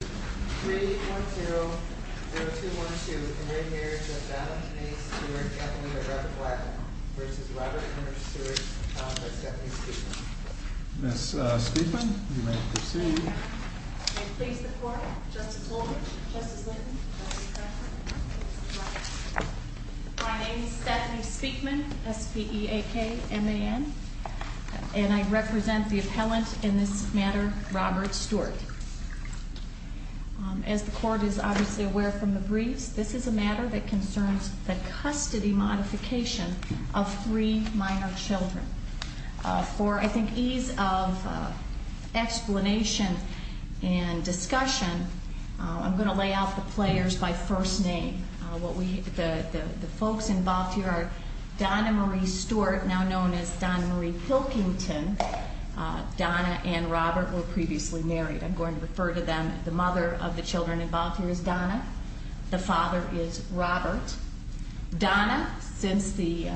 310-0212, and we're here to about a Stewart appellate at record black versus Robert Henry Stewart appellate by Stephanie Speakman. Ms. Speakman, you may proceed. May it please the court, Justice Holder, Justice Linton, Justice Cranford, and Justice DeVos. My name is Stephanie Speakman, S-P-E-A-K-M-A-N, and I represent the appellant in this matter, Robert Stewart. As the court is obviously aware from the briefs, this is a matter that concerns the custody modification of three minor children. For, I think, ease of explanation and discussion, I'm going to lay out the players by first name. The folks involved here are Donna Marie Stewart, now known as Donna Marie Pilkington. Donna and Robert were previously married. I'm going to refer to them, the mother of the children involved here is Donna. The father is Robert. Donna, since the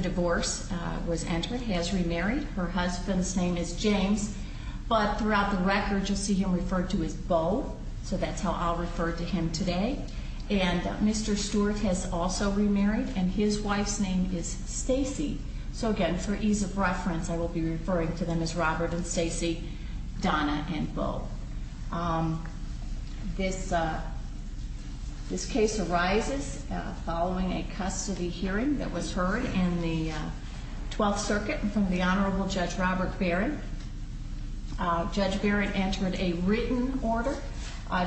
divorce was entered, has remarried. Her husband's name is James. But throughout the record, you'll see him referred to as Bo, so that's how I'll refer to him today. And Mr. Stewart has also remarried, and his wife's name is Stacy. So again, for ease of reference, I will be referring to them as Robert and Stacy, Donna and Bo. This case arises following a custody hearing that was heard in the 12th Circuit from the Honorable Judge Robert Barrett. Judge Barrett entered a written order.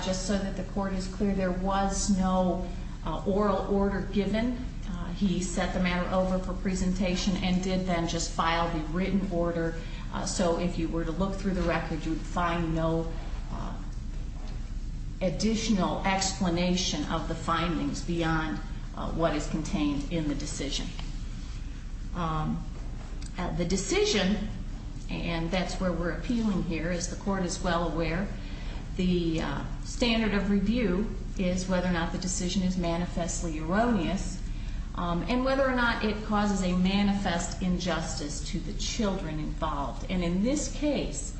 Just so that the court is clear, there was no oral order given. He set the matter over for presentation and did then just file the written order. So if you were to look through the record, you would find no additional explanation of the findings beyond what is contained in the decision. The decision, and that's where we're appealing here, as the court is well aware, the standard of review is whether or not the decision is manifestly erroneous and whether or not it causes a manifest injustice to the children involved. And in this case,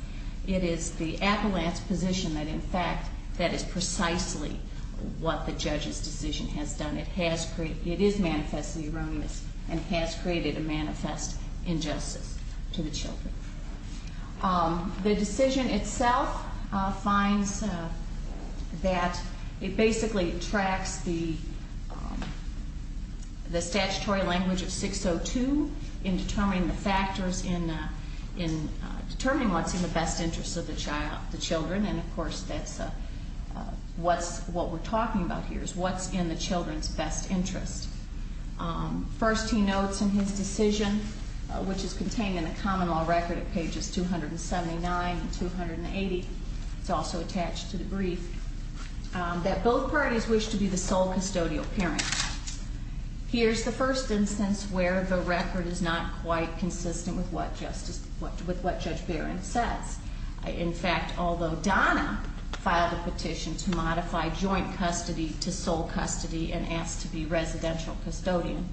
it is the appellant's position that, in fact, that is precisely what the judge's decision has done. It is manifestly erroneous and has created a manifest injustice to the children. The decision itself finds that it basically tracks the statutory language of 602 in determining what's in the best interest of the children. And, of course, what we're talking about here is what's in the children's best interest. First, he notes in his decision, which is contained in the common law record at pages 279 and 280, it's also attached to the brief, that both parties wish to be the sole custodial parent. Here's the first instance where the record is not quite consistent with what Judge Barron says. In fact, although Donna filed a petition to modify joint custody to sole custody and ask to be residential custodian,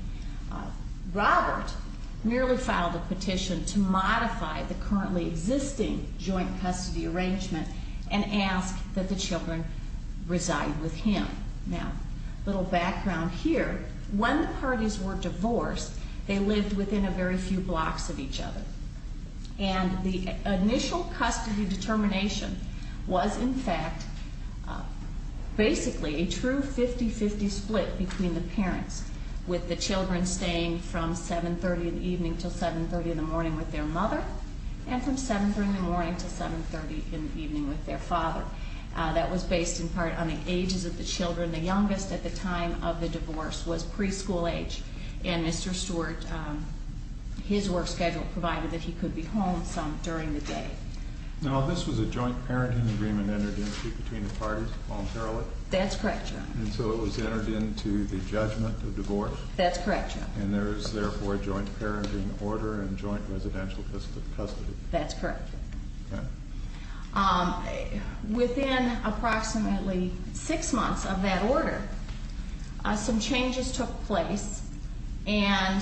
Robert merely filed a petition to modify the currently existing joint custody arrangement and ask that the children reside with him. Now, a little background here. When the parties were divorced, they lived within a very few blocks of each other. And the initial custody determination was, in fact, basically a true 50-50 split between the parents with the children staying from 7.30 in the evening until 7.30 in the morning with their mother and from 7.30 in the morning until 7.30 in the evening with their father. That was based in part on the ages of the children. The youngest at the time of the divorce was preschool age, and Mr. Stewart, his work schedule provided that he could be home some during the day. Now, this was a joint parenting agreement entered into between the parties voluntarily? That's correct, Your Honor. And so it was entered into the judgment of divorce? That's correct, Your Honor. And there is therefore a joint parenting order and joint residential custody? That's correct. Okay. Within approximately six months of that order, some changes took place, and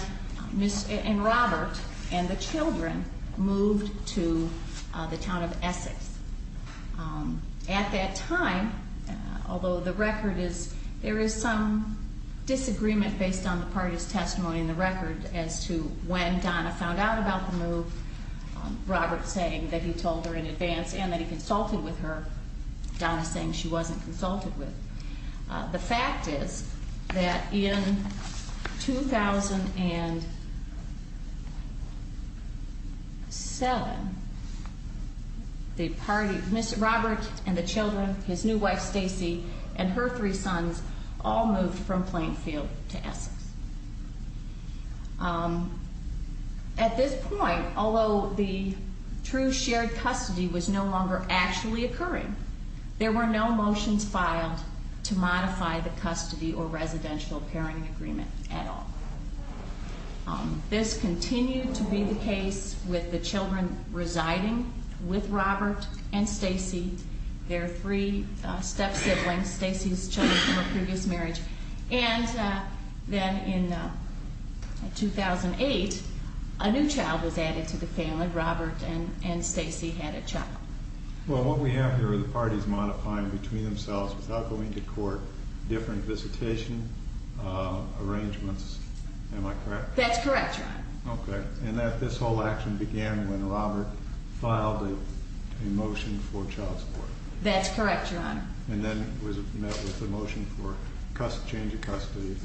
Robert and the children moved to the town of Essex. At that time, although the record is there is some disagreement based on the parties' testimony in the record as to when Donna found out about the move, Robert saying that he told her in advance and that he consulted with her, Donna saying she wasn't consulted with. The fact is that in 2007, the party, Mr. Robert and the children, his new wife, Stacy, and her three sons all moved from Plainfield to Essex. At this point, although the true shared custody was no longer actually occurring, there were no motions filed to modify the custody or residential parenting agreement at all. This continued to be the case with the children residing with Robert and Stacy, their three step-siblings, Stacy's children from a previous marriage, and then in 2008, a new child was added to the family. Robert and Stacy had a child. Well, what we have here are the parties modifying between themselves without going to court different visitation arrangements. Am I correct? That's correct, Your Honor. Okay. And this whole action began when Robert filed a motion for child support. That's correct, Your Honor. And then it was met with a motion for change of custody.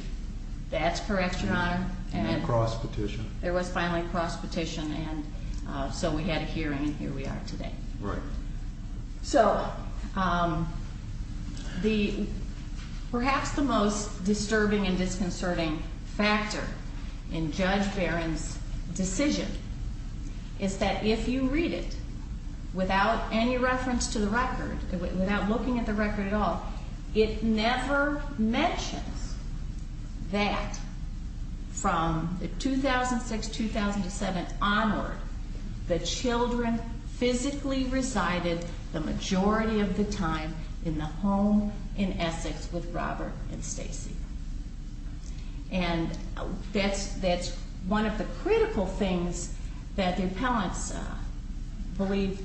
That's correct, Your Honor. And then cross-petition. There was finally cross-petition, and so we had a hearing, and here we are today. Right. So perhaps the most disturbing and disconcerting factor in Judge Barron's decision is that if you read it without any reference to the record, without looking at the record at all, it never mentions that from 2006-2007 onward, the children physically resided the majority of the time in the home in Essex with Robert and Stacy. And that's one of the critical things that the appellants believe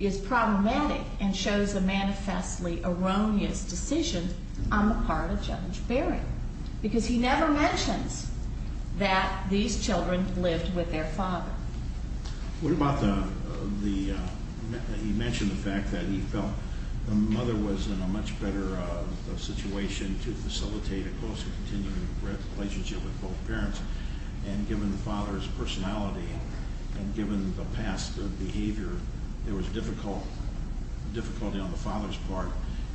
is problematic and shows a manifestly erroneous decision on the part of Judge Barron because he never mentions that these children lived with their father. What about the mention of the fact that he felt the mother was in a much better situation to facilitate a close and continuing relationship with both parents? And given the father's personality and given the past behavior, there was difficulty on the father's part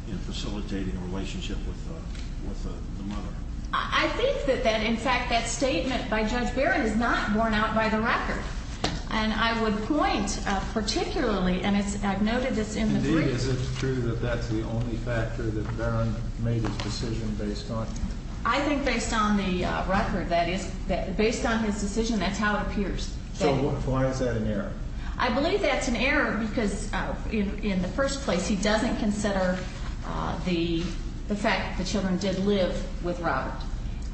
in facilitating a relationship with the mother. I think that, in fact, that statement by Judge Barron is not borne out by the record. And I would point particularly, and I've noted this in the brief. Is it true that that's the only factor that Barron made his decision based on? I think based on the record, that is. Based on his decision, that's how it appears. So why is that an error? I believe that's an error because, in the first place, he doesn't consider the fact that the children did live with Robert.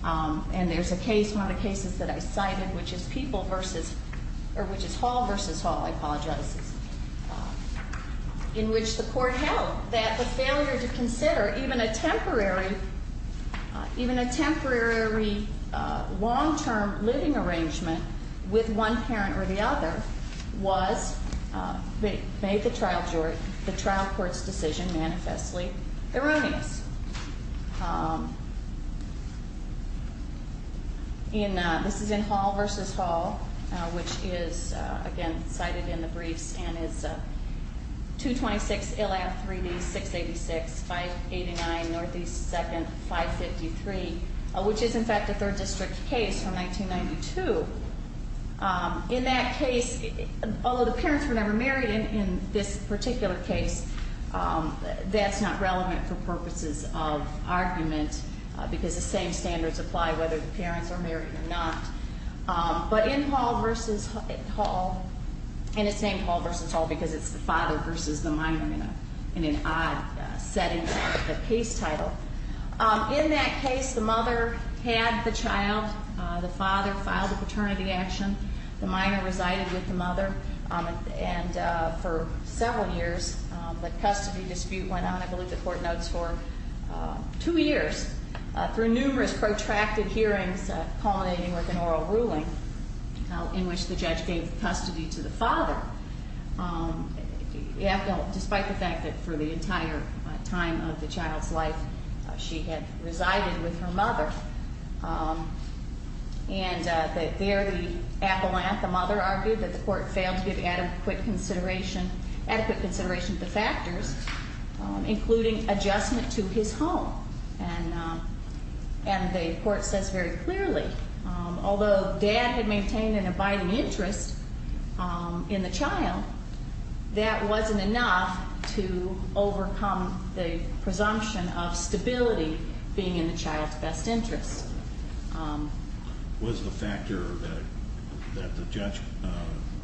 And there's a case, one of the cases that I cited, which is Hall v. Hall, I apologize, in which the court held that the failure to consider even a temporary long-term living arrangement with one parent or the other made the trial court's decision manifestly erroneous. This is in Hall v. Hall, which is, again, cited in the briefs, and is 226 LF 3D 686 589 NE 2nd 553, which is, in fact, a third district case from 1992. In that case, although the parents were never married in this particular case, that's not relevant for purposes of argument because the same standards apply whether the parents are married or not. But in Hall v. Hall, and it's named Hall v. Hall because it's the father versus the minor in an odd setting of the case title. In that case, the mother had the child. The father filed a paternity action. The minor resided with the mother. And for several years, the custody dispute went on, I believe the court notes, for two years, through numerous protracted hearings culminating with an oral ruling in which the judge gave custody to the father, despite the fact that for the entire time of the child's life, she had resided with her mother. And there the appellant, the mother, argued that the court failed to give adequate consideration to the factors, including adjustment to his home. And the court says very clearly, although Dad had maintained an abiding interest in the child, that wasn't enough to overcome the presumption of stability being in the child's best interest. Was the factor that the judge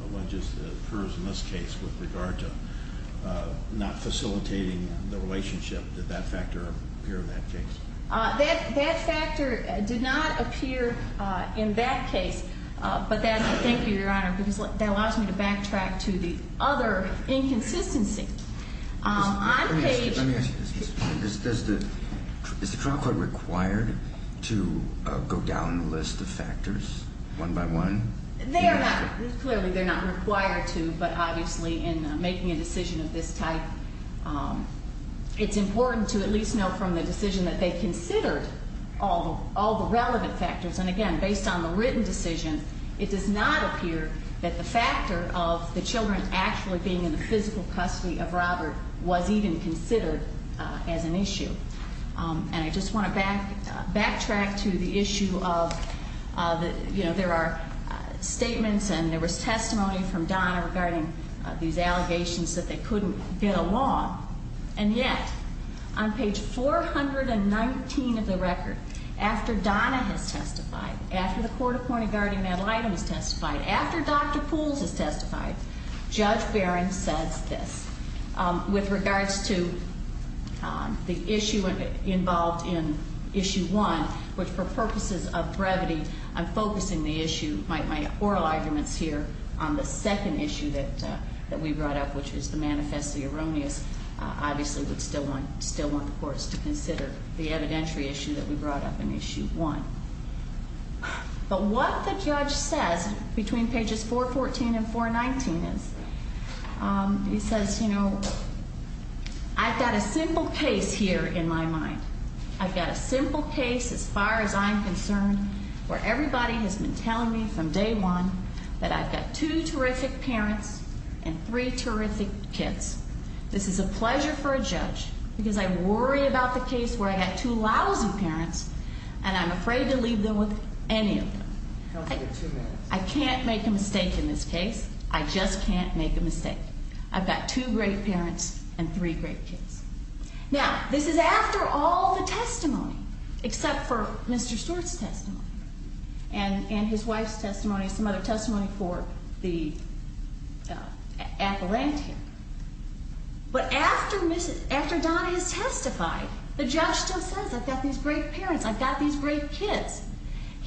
alleges occurs in this case with regard to not facilitating the relationship, did that factor appear in that case? That factor did not appear in that case. Thank you, Your Honor, because that allows me to backtrack to the other inconsistency. Let me ask you this. Is the trial court required to go down the list of factors one by one? They are not. Clearly, they're not required to. But obviously, in making a decision of this type, it's important to at least know from the decision that they considered all the relevant factors. And, again, based on the written decision, it does not appear that the factor of the children actually being in the physical custody of Robert was even considered as an issue. And I just want to backtrack to the issue of, you know, there are statements and there was testimony from Donna regarding these allegations that they couldn't get along. And yet, on page 419 of the record, after Donna has testified, after the Court of Court of Guardian Ad Litem has testified, after Dr. Pools has testified, Judge Barron says this. With regards to the issue involved in issue one, which for purposes of brevity, I'm focusing the issue, my oral arguments here, on the second issue that we brought up, which is the manifesto erroneous. Obviously, we still want the courts to consider the evidentiary issue that we brought up in issue one. But what the judge says between pages 414 and 419 is, he says, you know, I've got a simple case here in my mind. I've got a simple case, as far as I'm concerned, where everybody has been telling me from day one that I've got two terrific parents and three terrific kids. This is a pleasure for a judge because I worry about the case where I've got two lousy parents and I'm afraid to leave them with any of them. I can't make a mistake in this case. I just can't make a mistake. I've got two great parents and three great kids. Now, this is after all the testimony, except for Mr. Stewart's testimony and his wife's testimony and some other testimony for the appellant here. But after Donna has testified, the judge still says, I've got these great parents, I've got these great kids.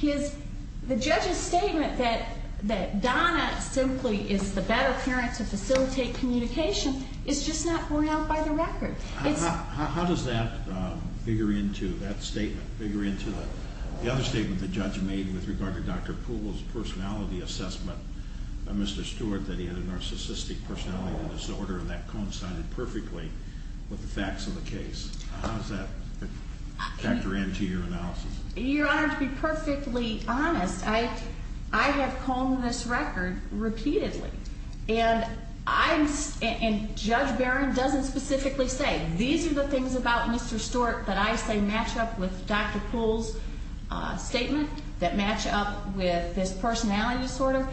The judge's statement that Donna simply is the better parent to facilitate communication is just not borne out by the record. How does that figure into that statement, figure into the other statement the judge made with regard to Dr. Poole's personality assessment, Mr. Stewart, that he had a narcissistic personality disorder and that coincided perfectly with the facts of the case? How does that factor into your analysis? Your Honor, to be perfectly honest, I have combed this record repeatedly. And Judge Barron doesn't specifically say, these are the things about Mr. Stewart that I say match up with Dr. Poole's statement, that match up with this personality disorder.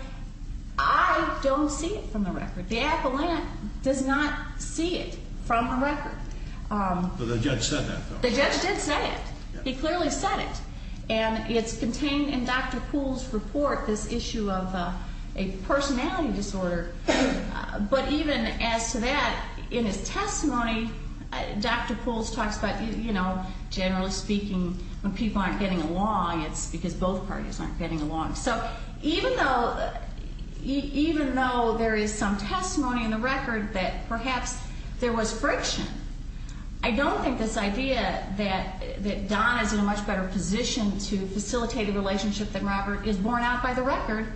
I don't see it from the record. The appellant does not see it from the record. But the judge said that, though. The judge did say it. He clearly said it. And it's contained in Dr. Poole's report, this issue of a personality disorder. But even as to that, in his testimony, Dr. Poole talks about, you know, generally speaking, when people aren't getting along, it's because both parties aren't getting along. So even though there is some testimony in the record that perhaps there was friction, I don't think this idea that Don is in a much better position to facilitate a relationship than Robert is borne out by the record.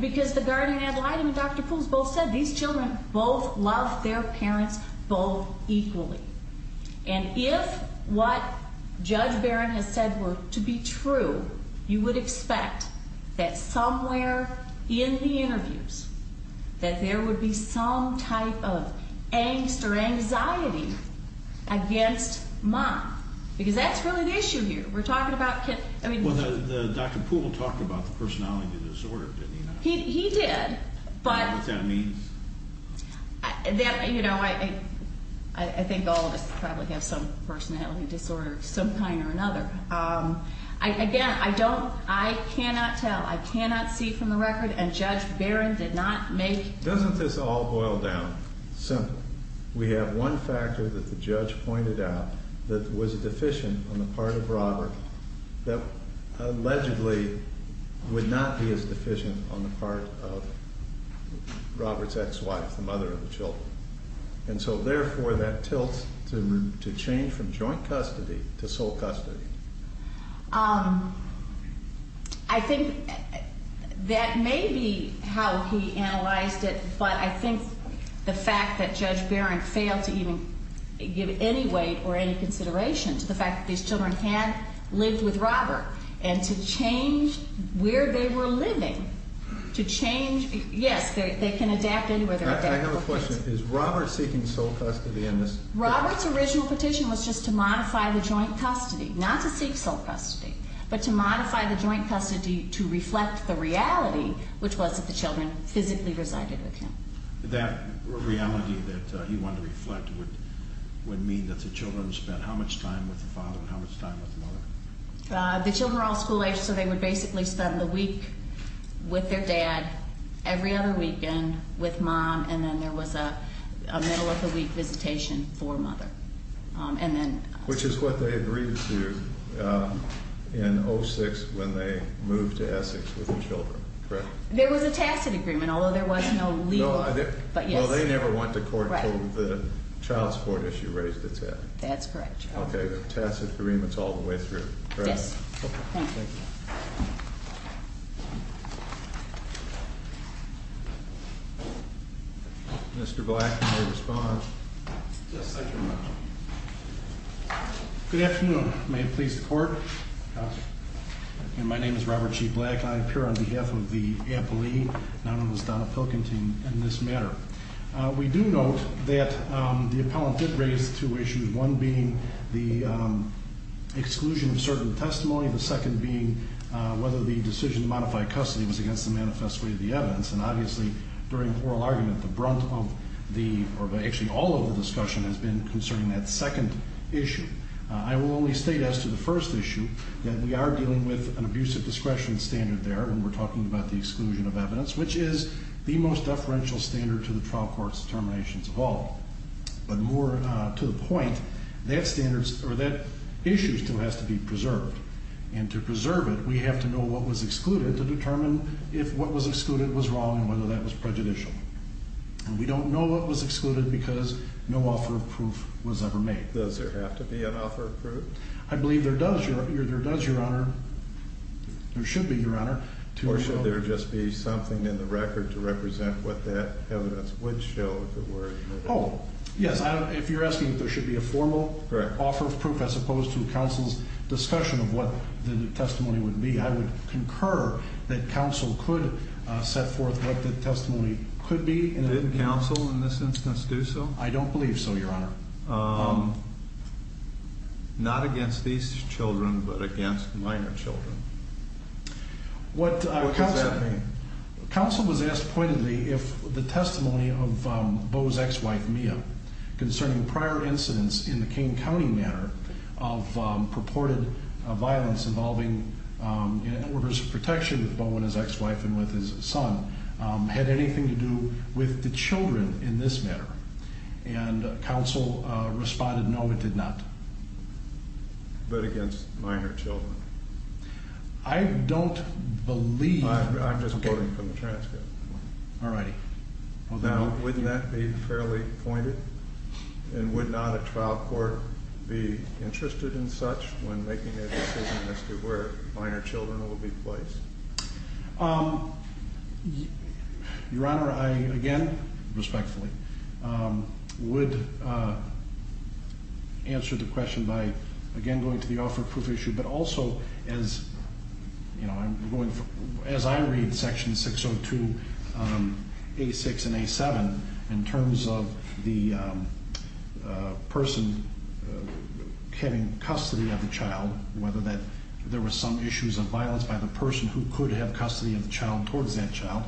Because the guardian ad litem and Dr. Poole's both said these children both love their parents both equally. And if what Judge Barron has said were to be true, you would expect that somewhere in the interviews that there would be some type of angst or anxiety against Mom. Because that's really the issue here. We're talking about kids. Well, Dr. Poole talked about the personality disorder, didn't he not? He did. What that means. You know, I think all of us probably have some personality disorder of some kind or another. Again, I don't, I cannot tell. I cannot see from the record, and Judge Barron did not make. Doesn't this all boil down? Simple. We have one factor that the judge pointed out that was deficient on the part of Robert, that allegedly would not be as deficient on the part of Robert's ex-wife, the mother of the children. And so, therefore, that tilts to change from joint custody to sole custody. I think that may be how he analyzed it. But I think the fact that Judge Barron failed to even give any weight or any consideration to the fact that these children had lived with Robert and to change where they were living, to change, yes, they can adapt anywhere they're at. I have a question. Is Robert seeking sole custody in this? Robert's original petition was just to modify the joint custody, not to seek sole custody, but to modify the joint custody to reflect the reality, which was that the children physically resided with him. That reality that he wanted to reflect would mean that the children spent how much time with the father and how much time with the mother? The children were all school-aged, so they would basically spend the week with their dad, every other weekend with mom, and then there was a middle-of-the-week visitation for mother. Which is what they agreed to in 2006 when they moved to Essex with the children, correct? There was a tacit agreement, although there was no legal agreement. Well, they never went to court until the child support issue raised its head. That's correct. Okay, a tacit agreement all the way through, correct? Yes. Okay, thank you. Mr. Black, you may respond. Yes, thank you very much. Good afternoon. May it please the Court? Yes. My name is Robert G. Black. I appear on behalf of the appellee, none other than Donald Pilkington, in this matter. We do note that the appellant did raise two issues, one being the exclusion of certain testimony, the second being whether the decision to modify custody was against the manifest way of the evidence. And obviously, during the oral argument, the brunt of the, or actually all of the discussion has been concerning that second issue. I will only state as to the first issue that we are dealing with an abusive discretion standard there, and we're talking about the exclusion of evidence, which is the most deferential standard to the trial court's determinations of all. But more to the point, that issue still has to be preserved. And to preserve it, we have to know what was excluded to determine if what was excluded was wrong and whether that was prejudicial. And we don't know what was excluded because no offer of proof was ever made. I believe there does, Your Honor. There should be, Your Honor. Or should there just be something in the record to represent what that evidence would show if it were? Oh, yes. If you're asking if there should be a formal offer of proof as opposed to counsel's discussion of what the testimony would be, I would concur that counsel could set forth what the testimony could be. Did counsel in this instance do so? I don't believe so, Your Honor. Not against these children, but against minor children. What does that mean? Counsel was asked pointedly if the testimony of Bo's ex-wife, Mia, concerning prior incidents in the Kane County matter of purported violence involving in orders of protection with Bo and his ex-wife and with his son, had anything to do with the children in this matter. And counsel responded, no, it did not. But against minor children. I don't believe... I'm just quoting from the transcript. All right. Now, wouldn't that be fairly pointed? And would not a trial court be interested in such when making a decision as to where minor children will be placed? Your Honor, I, again, respectfully, would answer the question by, again, going to the offer of proof issue, but also as I read Section 602A6 and A7 in terms of the person having custody of the child, whether that there were some issues of violence by the person who could have custody of the child towards that child,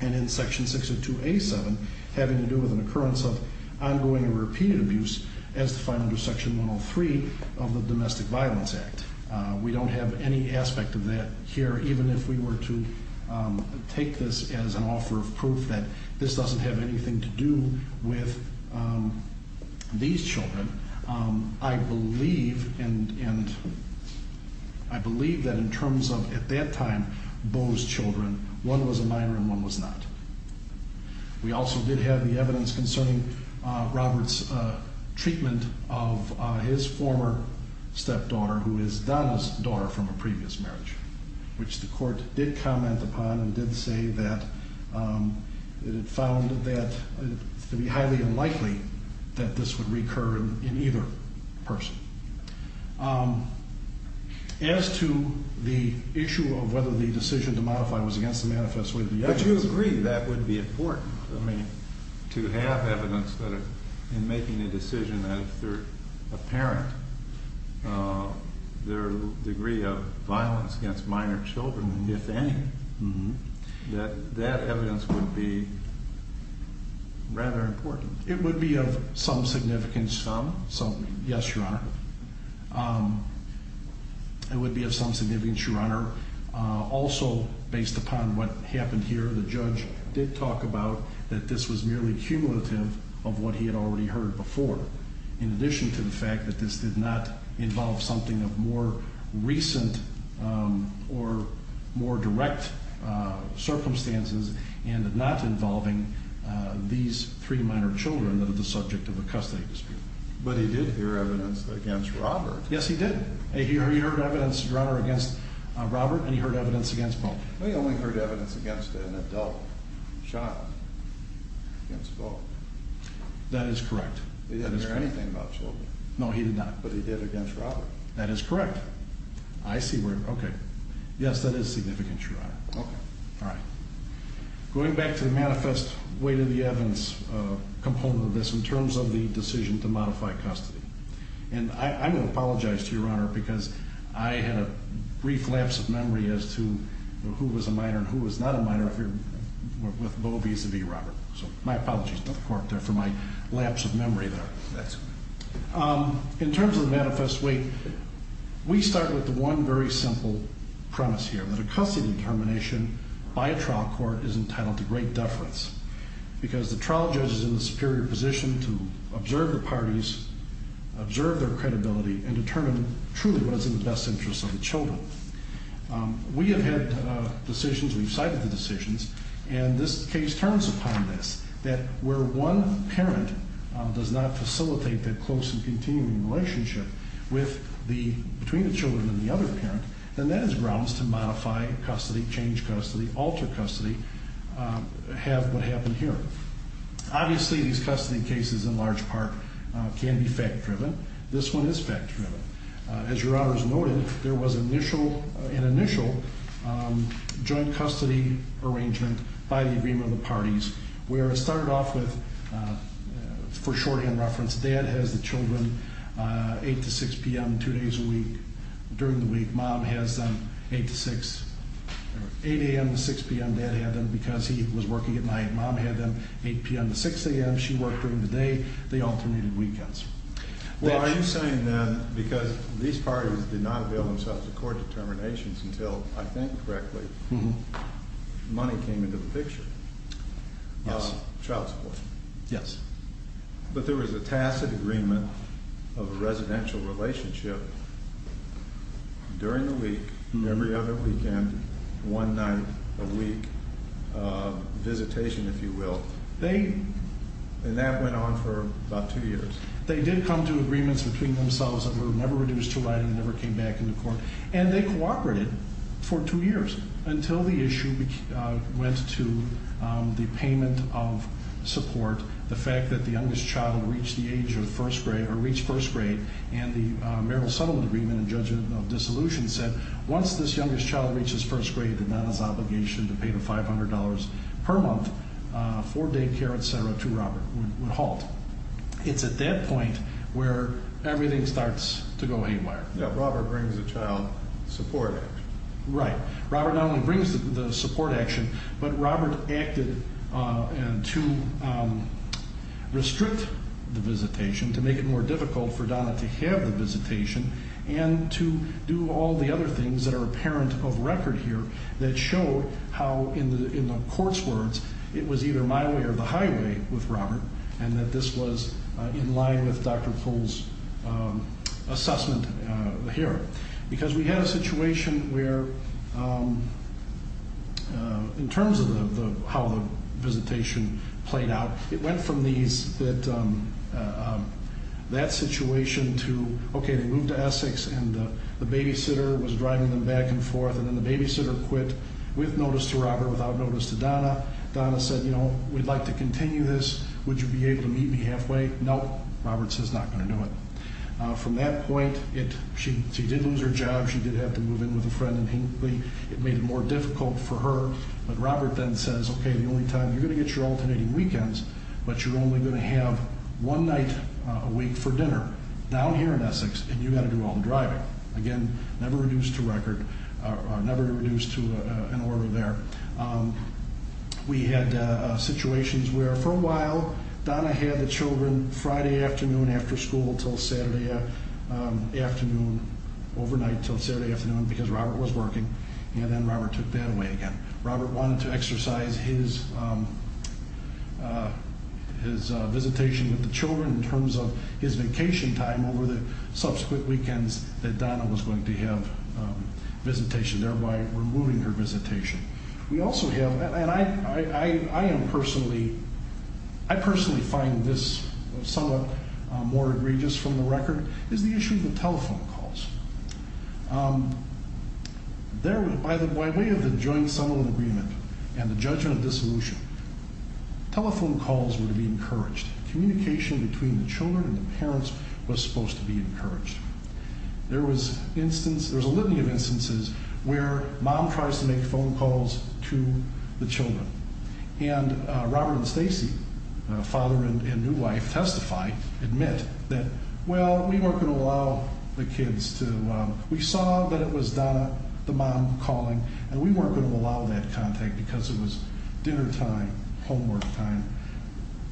and in Section 602A7 having to do with an occurrence of ongoing and repeated abuse, as defined under Section 103 of the Domestic Violence Act. We don't have any aspect of that here, even if we were to take this as an offer of proof that this doesn't have anything to do with these children. I believe that in terms of, at that time, those children, one was a minor and one was not. We also did have the evidence concerning Robert's treatment of his former stepdaughter, who is Donna's daughter from a previous marriage, which the Court did comment upon and did say that it found that it would be highly unlikely that this would recur in either person. As to the issue of whether the decision to modify was against the manifest way of the evidence… But you agree that would be important, I mean, to have evidence that in making a decision that if they're a parent, their degree of violence against minor children, if any, that that evidence would be rather important. It would be of some significance. Some? Yes, Your Honor. It would be of some significance, Your Honor. Also, based upon what happened here, the judge did talk about that this was merely cumulative of what he had already heard before, in addition to the fact that this did not involve something of more recent or more direct circumstances and not involving these three minor children that are the subject of a custody dispute. But he did hear evidence against Robert. Yes, he did. He heard evidence, Your Honor, against Robert and he heard evidence against both. He only heard evidence against an adult shot against both. That is correct. He didn't hear anything about children. No, he did not. But he did against Robert. That is correct. I see where… Okay. Yes, that is significant, Your Honor. Okay. All right. Going back to the manifest way to the evidence component of this in terms of the decision to modify custody, and I'm going to apologize to you, Your Honor, because I had a brief lapse of memory as to who was a minor and who was not a minor if you're with Bo vis-à-vis Robert. So my apologies to the court there for my lapse of memory there. That's okay. In terms of the manifest way, we start with the one very simple premise here, that a custody determination by a trial court is entitled to great deference because the trial judge is in the superior position to observe the parties, observe their credibility, and determine truly what is in the best interest of the children. We have had decisions, we've cited the decisions, and this case turns upon this, that where one parent does not facilitate that close and continuing relationship between the children and the other parent, then that is grounds to modify custody, change custody, alter custody, have what happened here. Obviously, these custody cases, in large part, can be fact-driven. This one is fact-driven. As Your Honor has noted, there was an initial joint custody arrangement by the agreement of the parties where it started off with, for shorthand reference, Dad has the children 8 to 6 p.m. two days a week. During the week, Mom has them 8 a.m. to 6 p.m. Dad had them because he was working at night. Mom had them 8 p.m. to 6 a.m. She worked during the day. They alternated weekends. Well, are you saying then, because these parties did not avail themselves of court determinations until, I think correctly, money came into the picture, child support. Yes. But there was a tacit agreement of a residential relationship during the week, every other weekend, one night a week, visitation, if you will. And that went on for about two years. They did come to agreements between themselves that were never reduced to writing, never came back into court, and they cooperated for two years until the issue went to the payment of support, the fact that the youngest child had reached first grade, and the marital settlement agreement and judgment of dissolution said once this youngest child reaches first grade, that Donna's obligation to pay the $500 per month for daycare, et cetera, to Robert would halt. It's at that point where everything starts to go haywire. Yeah, Robert brings the child support. Right. Robert not only brings the support action, but Robert acted to restrict the visitation, to make it more difficult for Donna to have the visitation, and to do all the other things that are apparent of record here that show how, in the court's words, it was either my way or the highway with Robert, and that this was in line with Dr. Pohl's assessment here. Because we had a situation where, in terms of how the visitation played out, it went from that situation to, okay, they moved to Essex, and the babysitter was driving them back and forth, and then the babysitter quit with notice to Robert, without notice to Donna. Donna said, you know, we'd like to continue this. Would you be able to meet me halfway? Nope. Robert says, not going to do it. From that point, she did lose her job. She did have to move in with a friend, and it made it more difficult for her. But Robert then says, okay, the only time you're going to get your alternating weekends, but you're only going to have one night a week for dinner down here in Essex, and you've got to do all the driving. Again, never reduced to record, never reduced to an order there. We had situations where, for a while, Donna had the children Friday afternoon after school until Saturday afternoon, overnight until Saturday afternoon, because Robert was working, and then Robert took that away again. Robert wanted to exercise his visitation with the children in terms of his vacation time over the subsequent weekends that Donna was going to have visitation, thereby removing her visitation. We also have, and I am personally, I personally find this somewhat more egregious from the record, is the issue of the telephone calls. By way of the joint settlement agreement and the judgment of dissolution, telephone calls were to be encouraged. Communication between the children and the parents was supposed to be encouraged. There was a litany of instances where mom tries to make phone calls to the children, and Robert and Stacy, father and new wife, testify, admit that, well, we weren't going to allow the kids to, we saw that it was Donna, the mom, calling, and we weren't going to allow that contact because it was dinner time, homework time.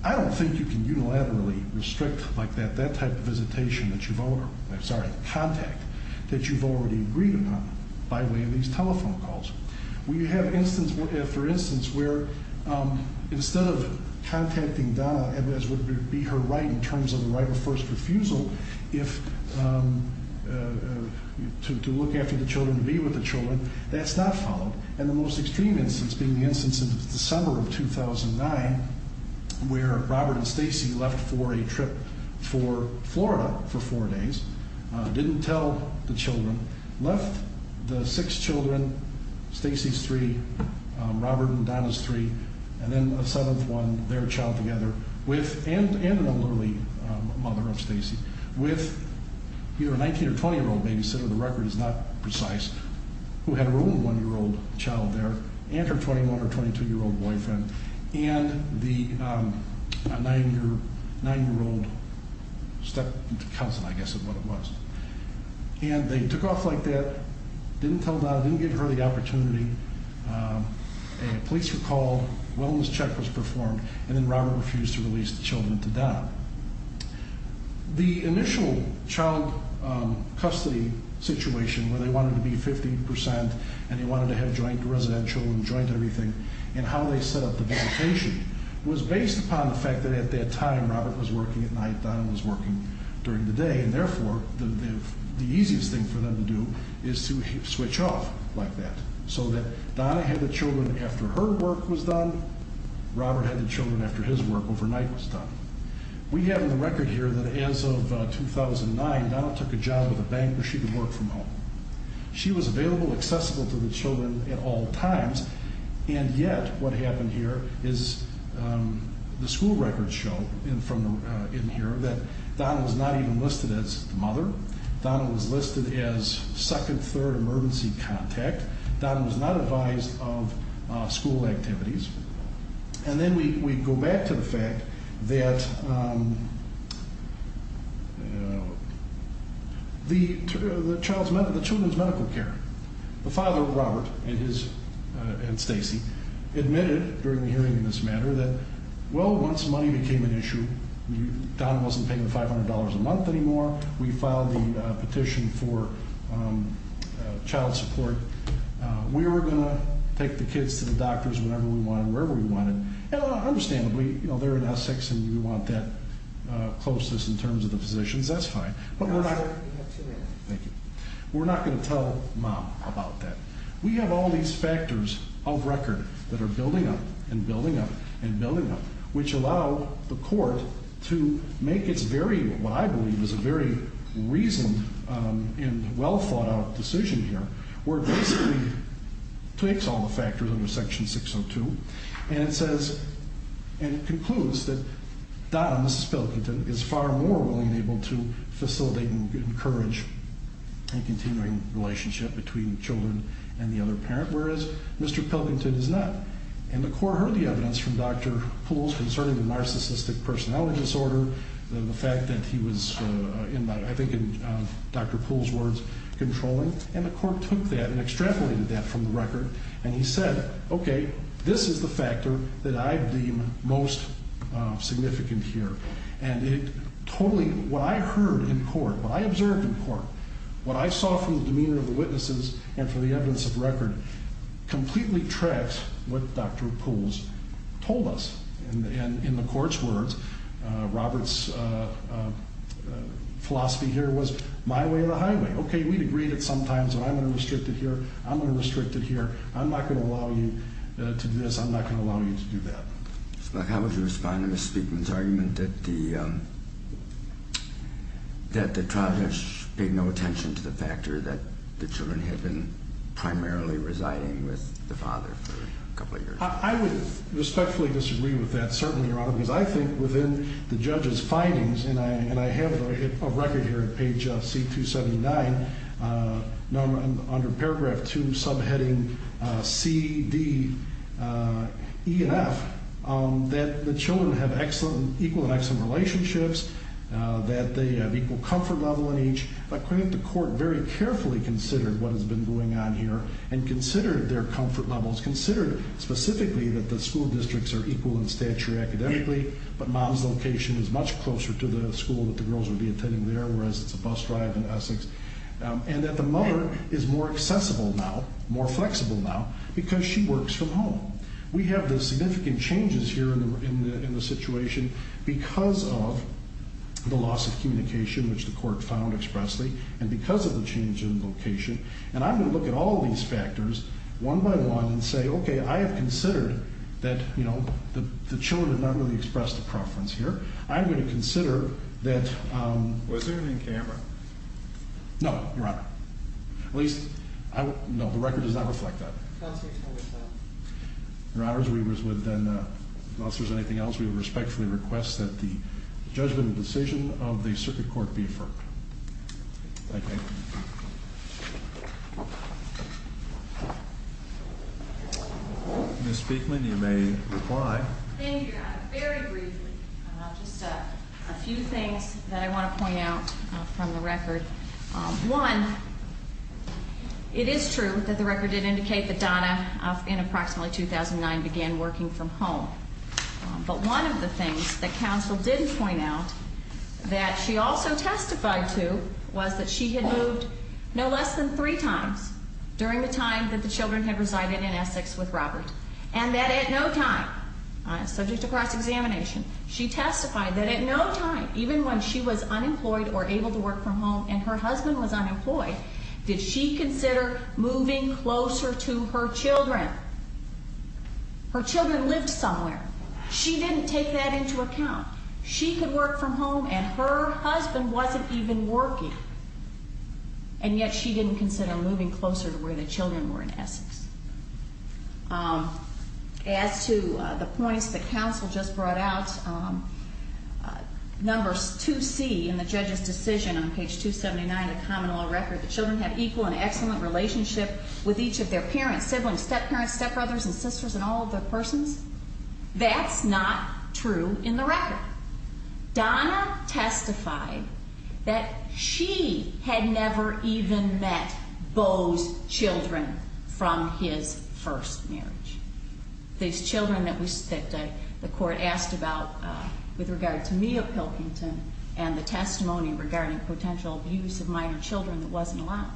I don't think you can unilaterally restrict like that, that type of visitation that you've over, I'm sorry, contact that you've already agreed upon by way of these telephone calls. We have instance after instance where instead of contacting Donna as would be her right in terms of the right of first refusal, if, to look after the children, to be with the children, that's not followed. And the most extreme instance being the instance in December of 2009 where Robert and Stacy left for a trip for Florida for four days, didn't tell the children, left the six children, Stacy's three, Robert and Donna's three, and then a seventh one, their child together, and an elderly mother of Stacy, with either a 19 or 20-year-old babysitter, the record is not precise, who had her own one-year-old child there, and her 21 or 22-year-old boyfriend, and the nine-year-old step-cousin, I guess is what it was. And they took off like that, didn't tell Donna, didn't give her the opportunity, police were called, a wellness check was performed, and then Robert refused to release the children to Donna. The initial child custody situation where they wanted to be 15% and they wanted to have joint residential and joint everything, and how they set up the vacation was based upon the fact that at that time Robert was working at night, Donna was working during the day, and therefore the easiest thing for them to do is to switch off like that, so that Donna had the children after her work was done, Robert had the children after his work overnight was done. We have in the record here that as of 2009 Donna took a job at a bank where she could work from home. She was available, accessible to the children at all times, and yet what happened here is the school records show in here that Donna was not even listed as the mother, Donna was listed as second, third emergency contact, Donna was not advised of school activities, and then we go back to the fact that the children's medical care, the father, Robert, and Stacy, admitted during the hearing in this matter that well, once money became an issue, Donna wasn't paying the $500 a month anymore, we filed the petition for child support, we were going to take the kids to the doctors whenever we wanted, wherever we wanted, and understandably they're in Essex and we want that closest in terms of the physicians, that's fine, but we're not going to tell mom about that. We have all these factors of record that are building up and building up and building up, which allow the court to make its very, what I believe is a very reasoned and well thought out decision here, where it basically takes all the factors under section 602 and it concludes that Donna, Mrs. Billington, is far more willing and able to facilitate and encourage a continuing relationship between children and the other parent, whereas Mr. Pilkington is not. And the court heard the evidence from Dr. Pools concerning the narcissistic personality disorder, the fact that he was, I think in Dr. Pools' words, controlling, and the court took that and extrapolated that from the record and he said, okay, this is the factor that I deem most significant here. And it totally, what I heard in court, what I observed in court, what I saw from the demeanor of the witnesses and from the evidence of record, completely tracks what Dr. Pools told us. And in the court's words, Robert's philosophy here was my way or the highway. Okay, we'd agreed at some times that I'm going to restrict it here, I'm going to restrict it here, I'm not going to allow you to do this, I'm not going to allow you to do that. How would you respond to Ms. Speakman's argument that the trial judge paid no attention to the factor that the children had been primarily residing with the father for a couple of years? I would respectfully disagree with that, certainly, Your Honor, because I think within the judge's findings, and I have a record here on page C-279, under paragraph 2, subheading C, D, E, and F, that the children have equal and excellent relationships, that they have equal comfort level in each. I think the court very carefully considered what has been going on here and considered their comfort levels, considered specifically that the school districts are equal in stature academically, but mom's location is much closer to the school that the girls would be attending there, whereas it's a bus drive in Essex, and that the mother is more accessible now, more flexible now, because she works from home. We have the significant changes here in the situation because of the loss of communication, which the court found expressly, and because of the change in location, and I'm going to look at all of these factors one by one and say, okay, I have considered that the children have not really expressed a preference here. I'm going to consider that... Was there any in camera? No, Your Honor. At least, no, the record does not reflect that. Counselor, tell us that. Your Honor, we would then, if there's anything else, we would respectfully request that the judgment and decision of the circuit court be affirmed. Thank you. Ms. Speakman, you may reply. Thank you, Your Honor. Very briefly, just a few things that I want to point out from the record. One, it is true that the record did indicate that Donna, in approximately 2009, began working from home, but one of the things that counsel did point out that she also testified to was that she had moved no less than three times during the time that the children had resided in Essex with Robert, and that at no time, subject to cross-examination, she testified that at no time, even when she was unemployed or able to work from home and her husband was unemployed, did she consider moving closer to her children. Her children lived somewhere. She didn't take that into account. She could work from home and her husband wasn't even working, and yet she didn't consider moving closer to where the children were in Essex. As to the points that counsel just brought out, numbers 2C in the judge's decision on page 279 of the common law record, the children have equal and excellent relationship with each of their parents, siblings, step-parents, step-brothers, and sisters, and all of their persons. That's not true in the record. Donna testified that she had never even met Beau's children from his first marriage. These children that the court asked about with regard to Mia Pilkington and the testimony regarding potential abuse of minor children that wasn't allowed.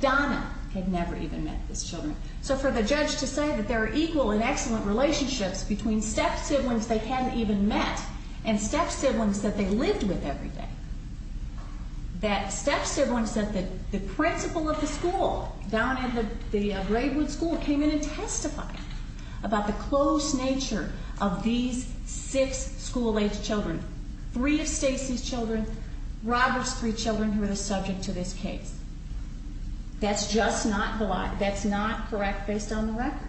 Donna had never even met these children. So for the judge to say that there are equal and excellent relationships between step-siblings they hadn't even met and step-siblings that they lived with every day, that step-siblings that the principal of the school, down at the Braidwood School, came in and testified about the close nature of these six school-age children, three of Stacey's children, Robert's three children who were the subject to this case. That's just not correct based on the record.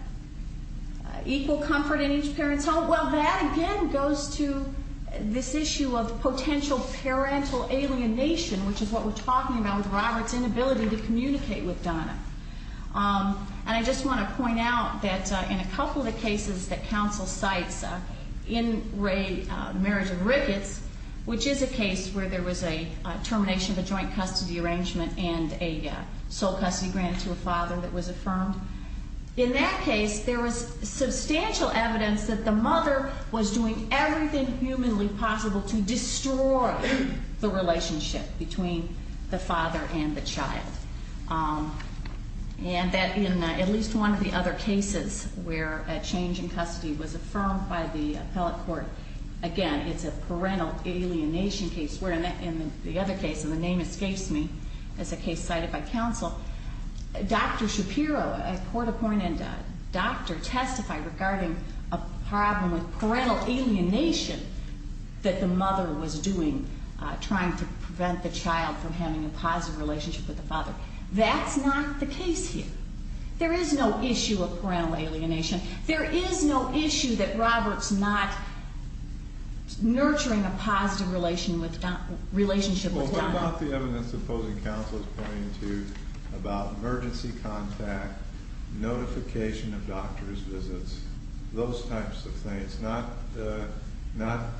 Equal comfort in each parent's home. Well, that again goes to this issue of potential parental alienation, which is what we're talking about with Robert's inability to communicate with Donna. And I just want to point out that in a couple of the cases that counsel cites in the marriage of Ricketts, which is a case where there was a termination of a joint custody arrangement and a sole custody grant to a father that was affirmed. In that case, there was substantial evidence that the mother was doing everything humanly possible to destroy the relationship between the father and the child. And that in at least one of the other cases where a change in custody was affirmed by the appellate court, again, it's a parental alienation case, where in the other case, and the name escapes me as a case cited by counsel, Dr. Shapiro, a court-appointed doctor, testified regarding a problem with parental alienation that the mother was doing, trying to prevent the child from having a positive relationship with the father. That's not the case here. There is no issue of parental alienation. There is no issue that Robert's not nurturing a positive relationship with Donna. What about the evidence the opposing counsel is pointing to about emergency contact, notification of doctor's visits, those types of things, not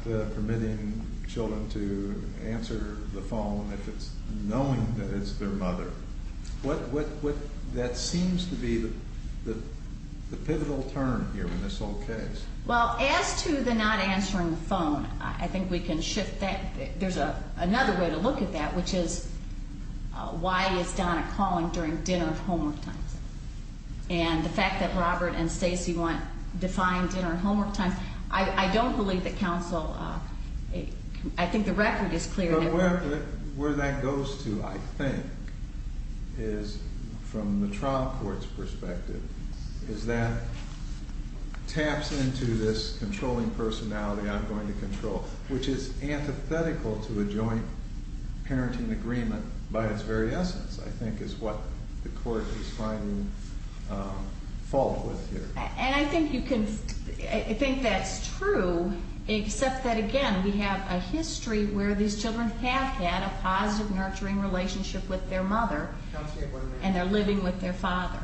permitting children to answer the phone if it's knowing that it's their mother? That seems to be the pivotal term here in this whole case. Well, as to the not answering the phone, I think we can shift that. There's another way to look at that, which is why is Donna calling during dinner and homework times? And the fact that Robert and Stacey want defined dinner and homework times, I don't believe that counsel, I think the record is clear. But where that goes to, I think, is from the trial court's perspective, is that taps into this controlling personality, I'm going to control, which is antithetical to a joint parenting agreement by its very essence, I think, is what the court is finding fault with here. And I think you can think that's true, except that, again, we have a history where these children have had a positive nurturing relationship with their mother, and they're living with their father.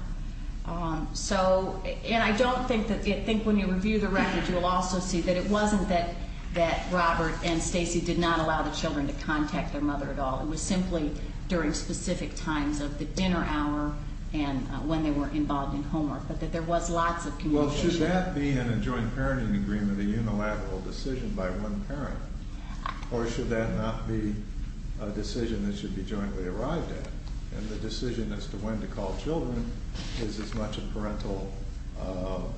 So, and I don't think that, I think when you review the record, you'll also see that it wasn't that Robert and Stacey did not allow the children to contact their mother at all. It was simply during specific times of the dinner hour and when they were involved in homework, but that there was lots of communication. Well, should that be in a joint parenting agreement, a unilateral decision by one parent, or should that not be a decision that should be jointly arrived at? And the decision as to when to call children is as much a parental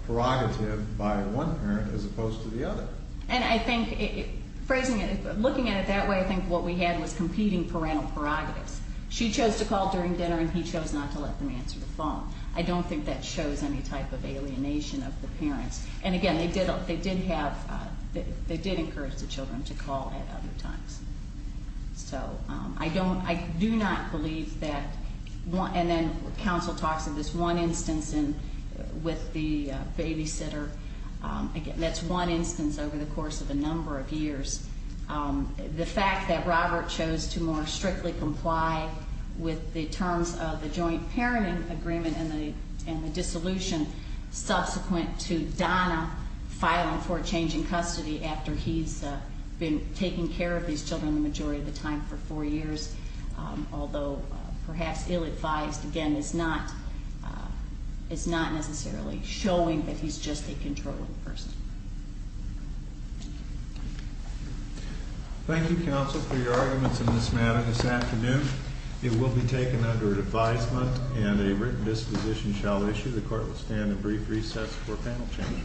prerogative by one parent as opposed to the other. And I think, phrasing it, looking at it that way, I think what we had was competing parental prerogatives. She chose to call during dinner, and he chose not to let them answer the phone. I don't think that shows any type of alienation of the parents. And again, they did have, they did encourage the children to call at other times. So I don't, I do not believe that, and then counsel talks of this one instance with the babysitter. Again, that's one instance over the course of a number of years. The fact that Robert chose to more strictly comply with the terms of the joint parenting agreement and the dissolution subsequent to Donna filing for change in custody after he's been taking care of these children the majority of the time for four years, although perhaps ill-advised, again, is not necessarily showing that he's just a controlling person. Thank you, counsel, for your arguments in this matter this afternoon. It will be taken under advisement, and a written disposition shall issue. The court will stand in brief recess for panel change.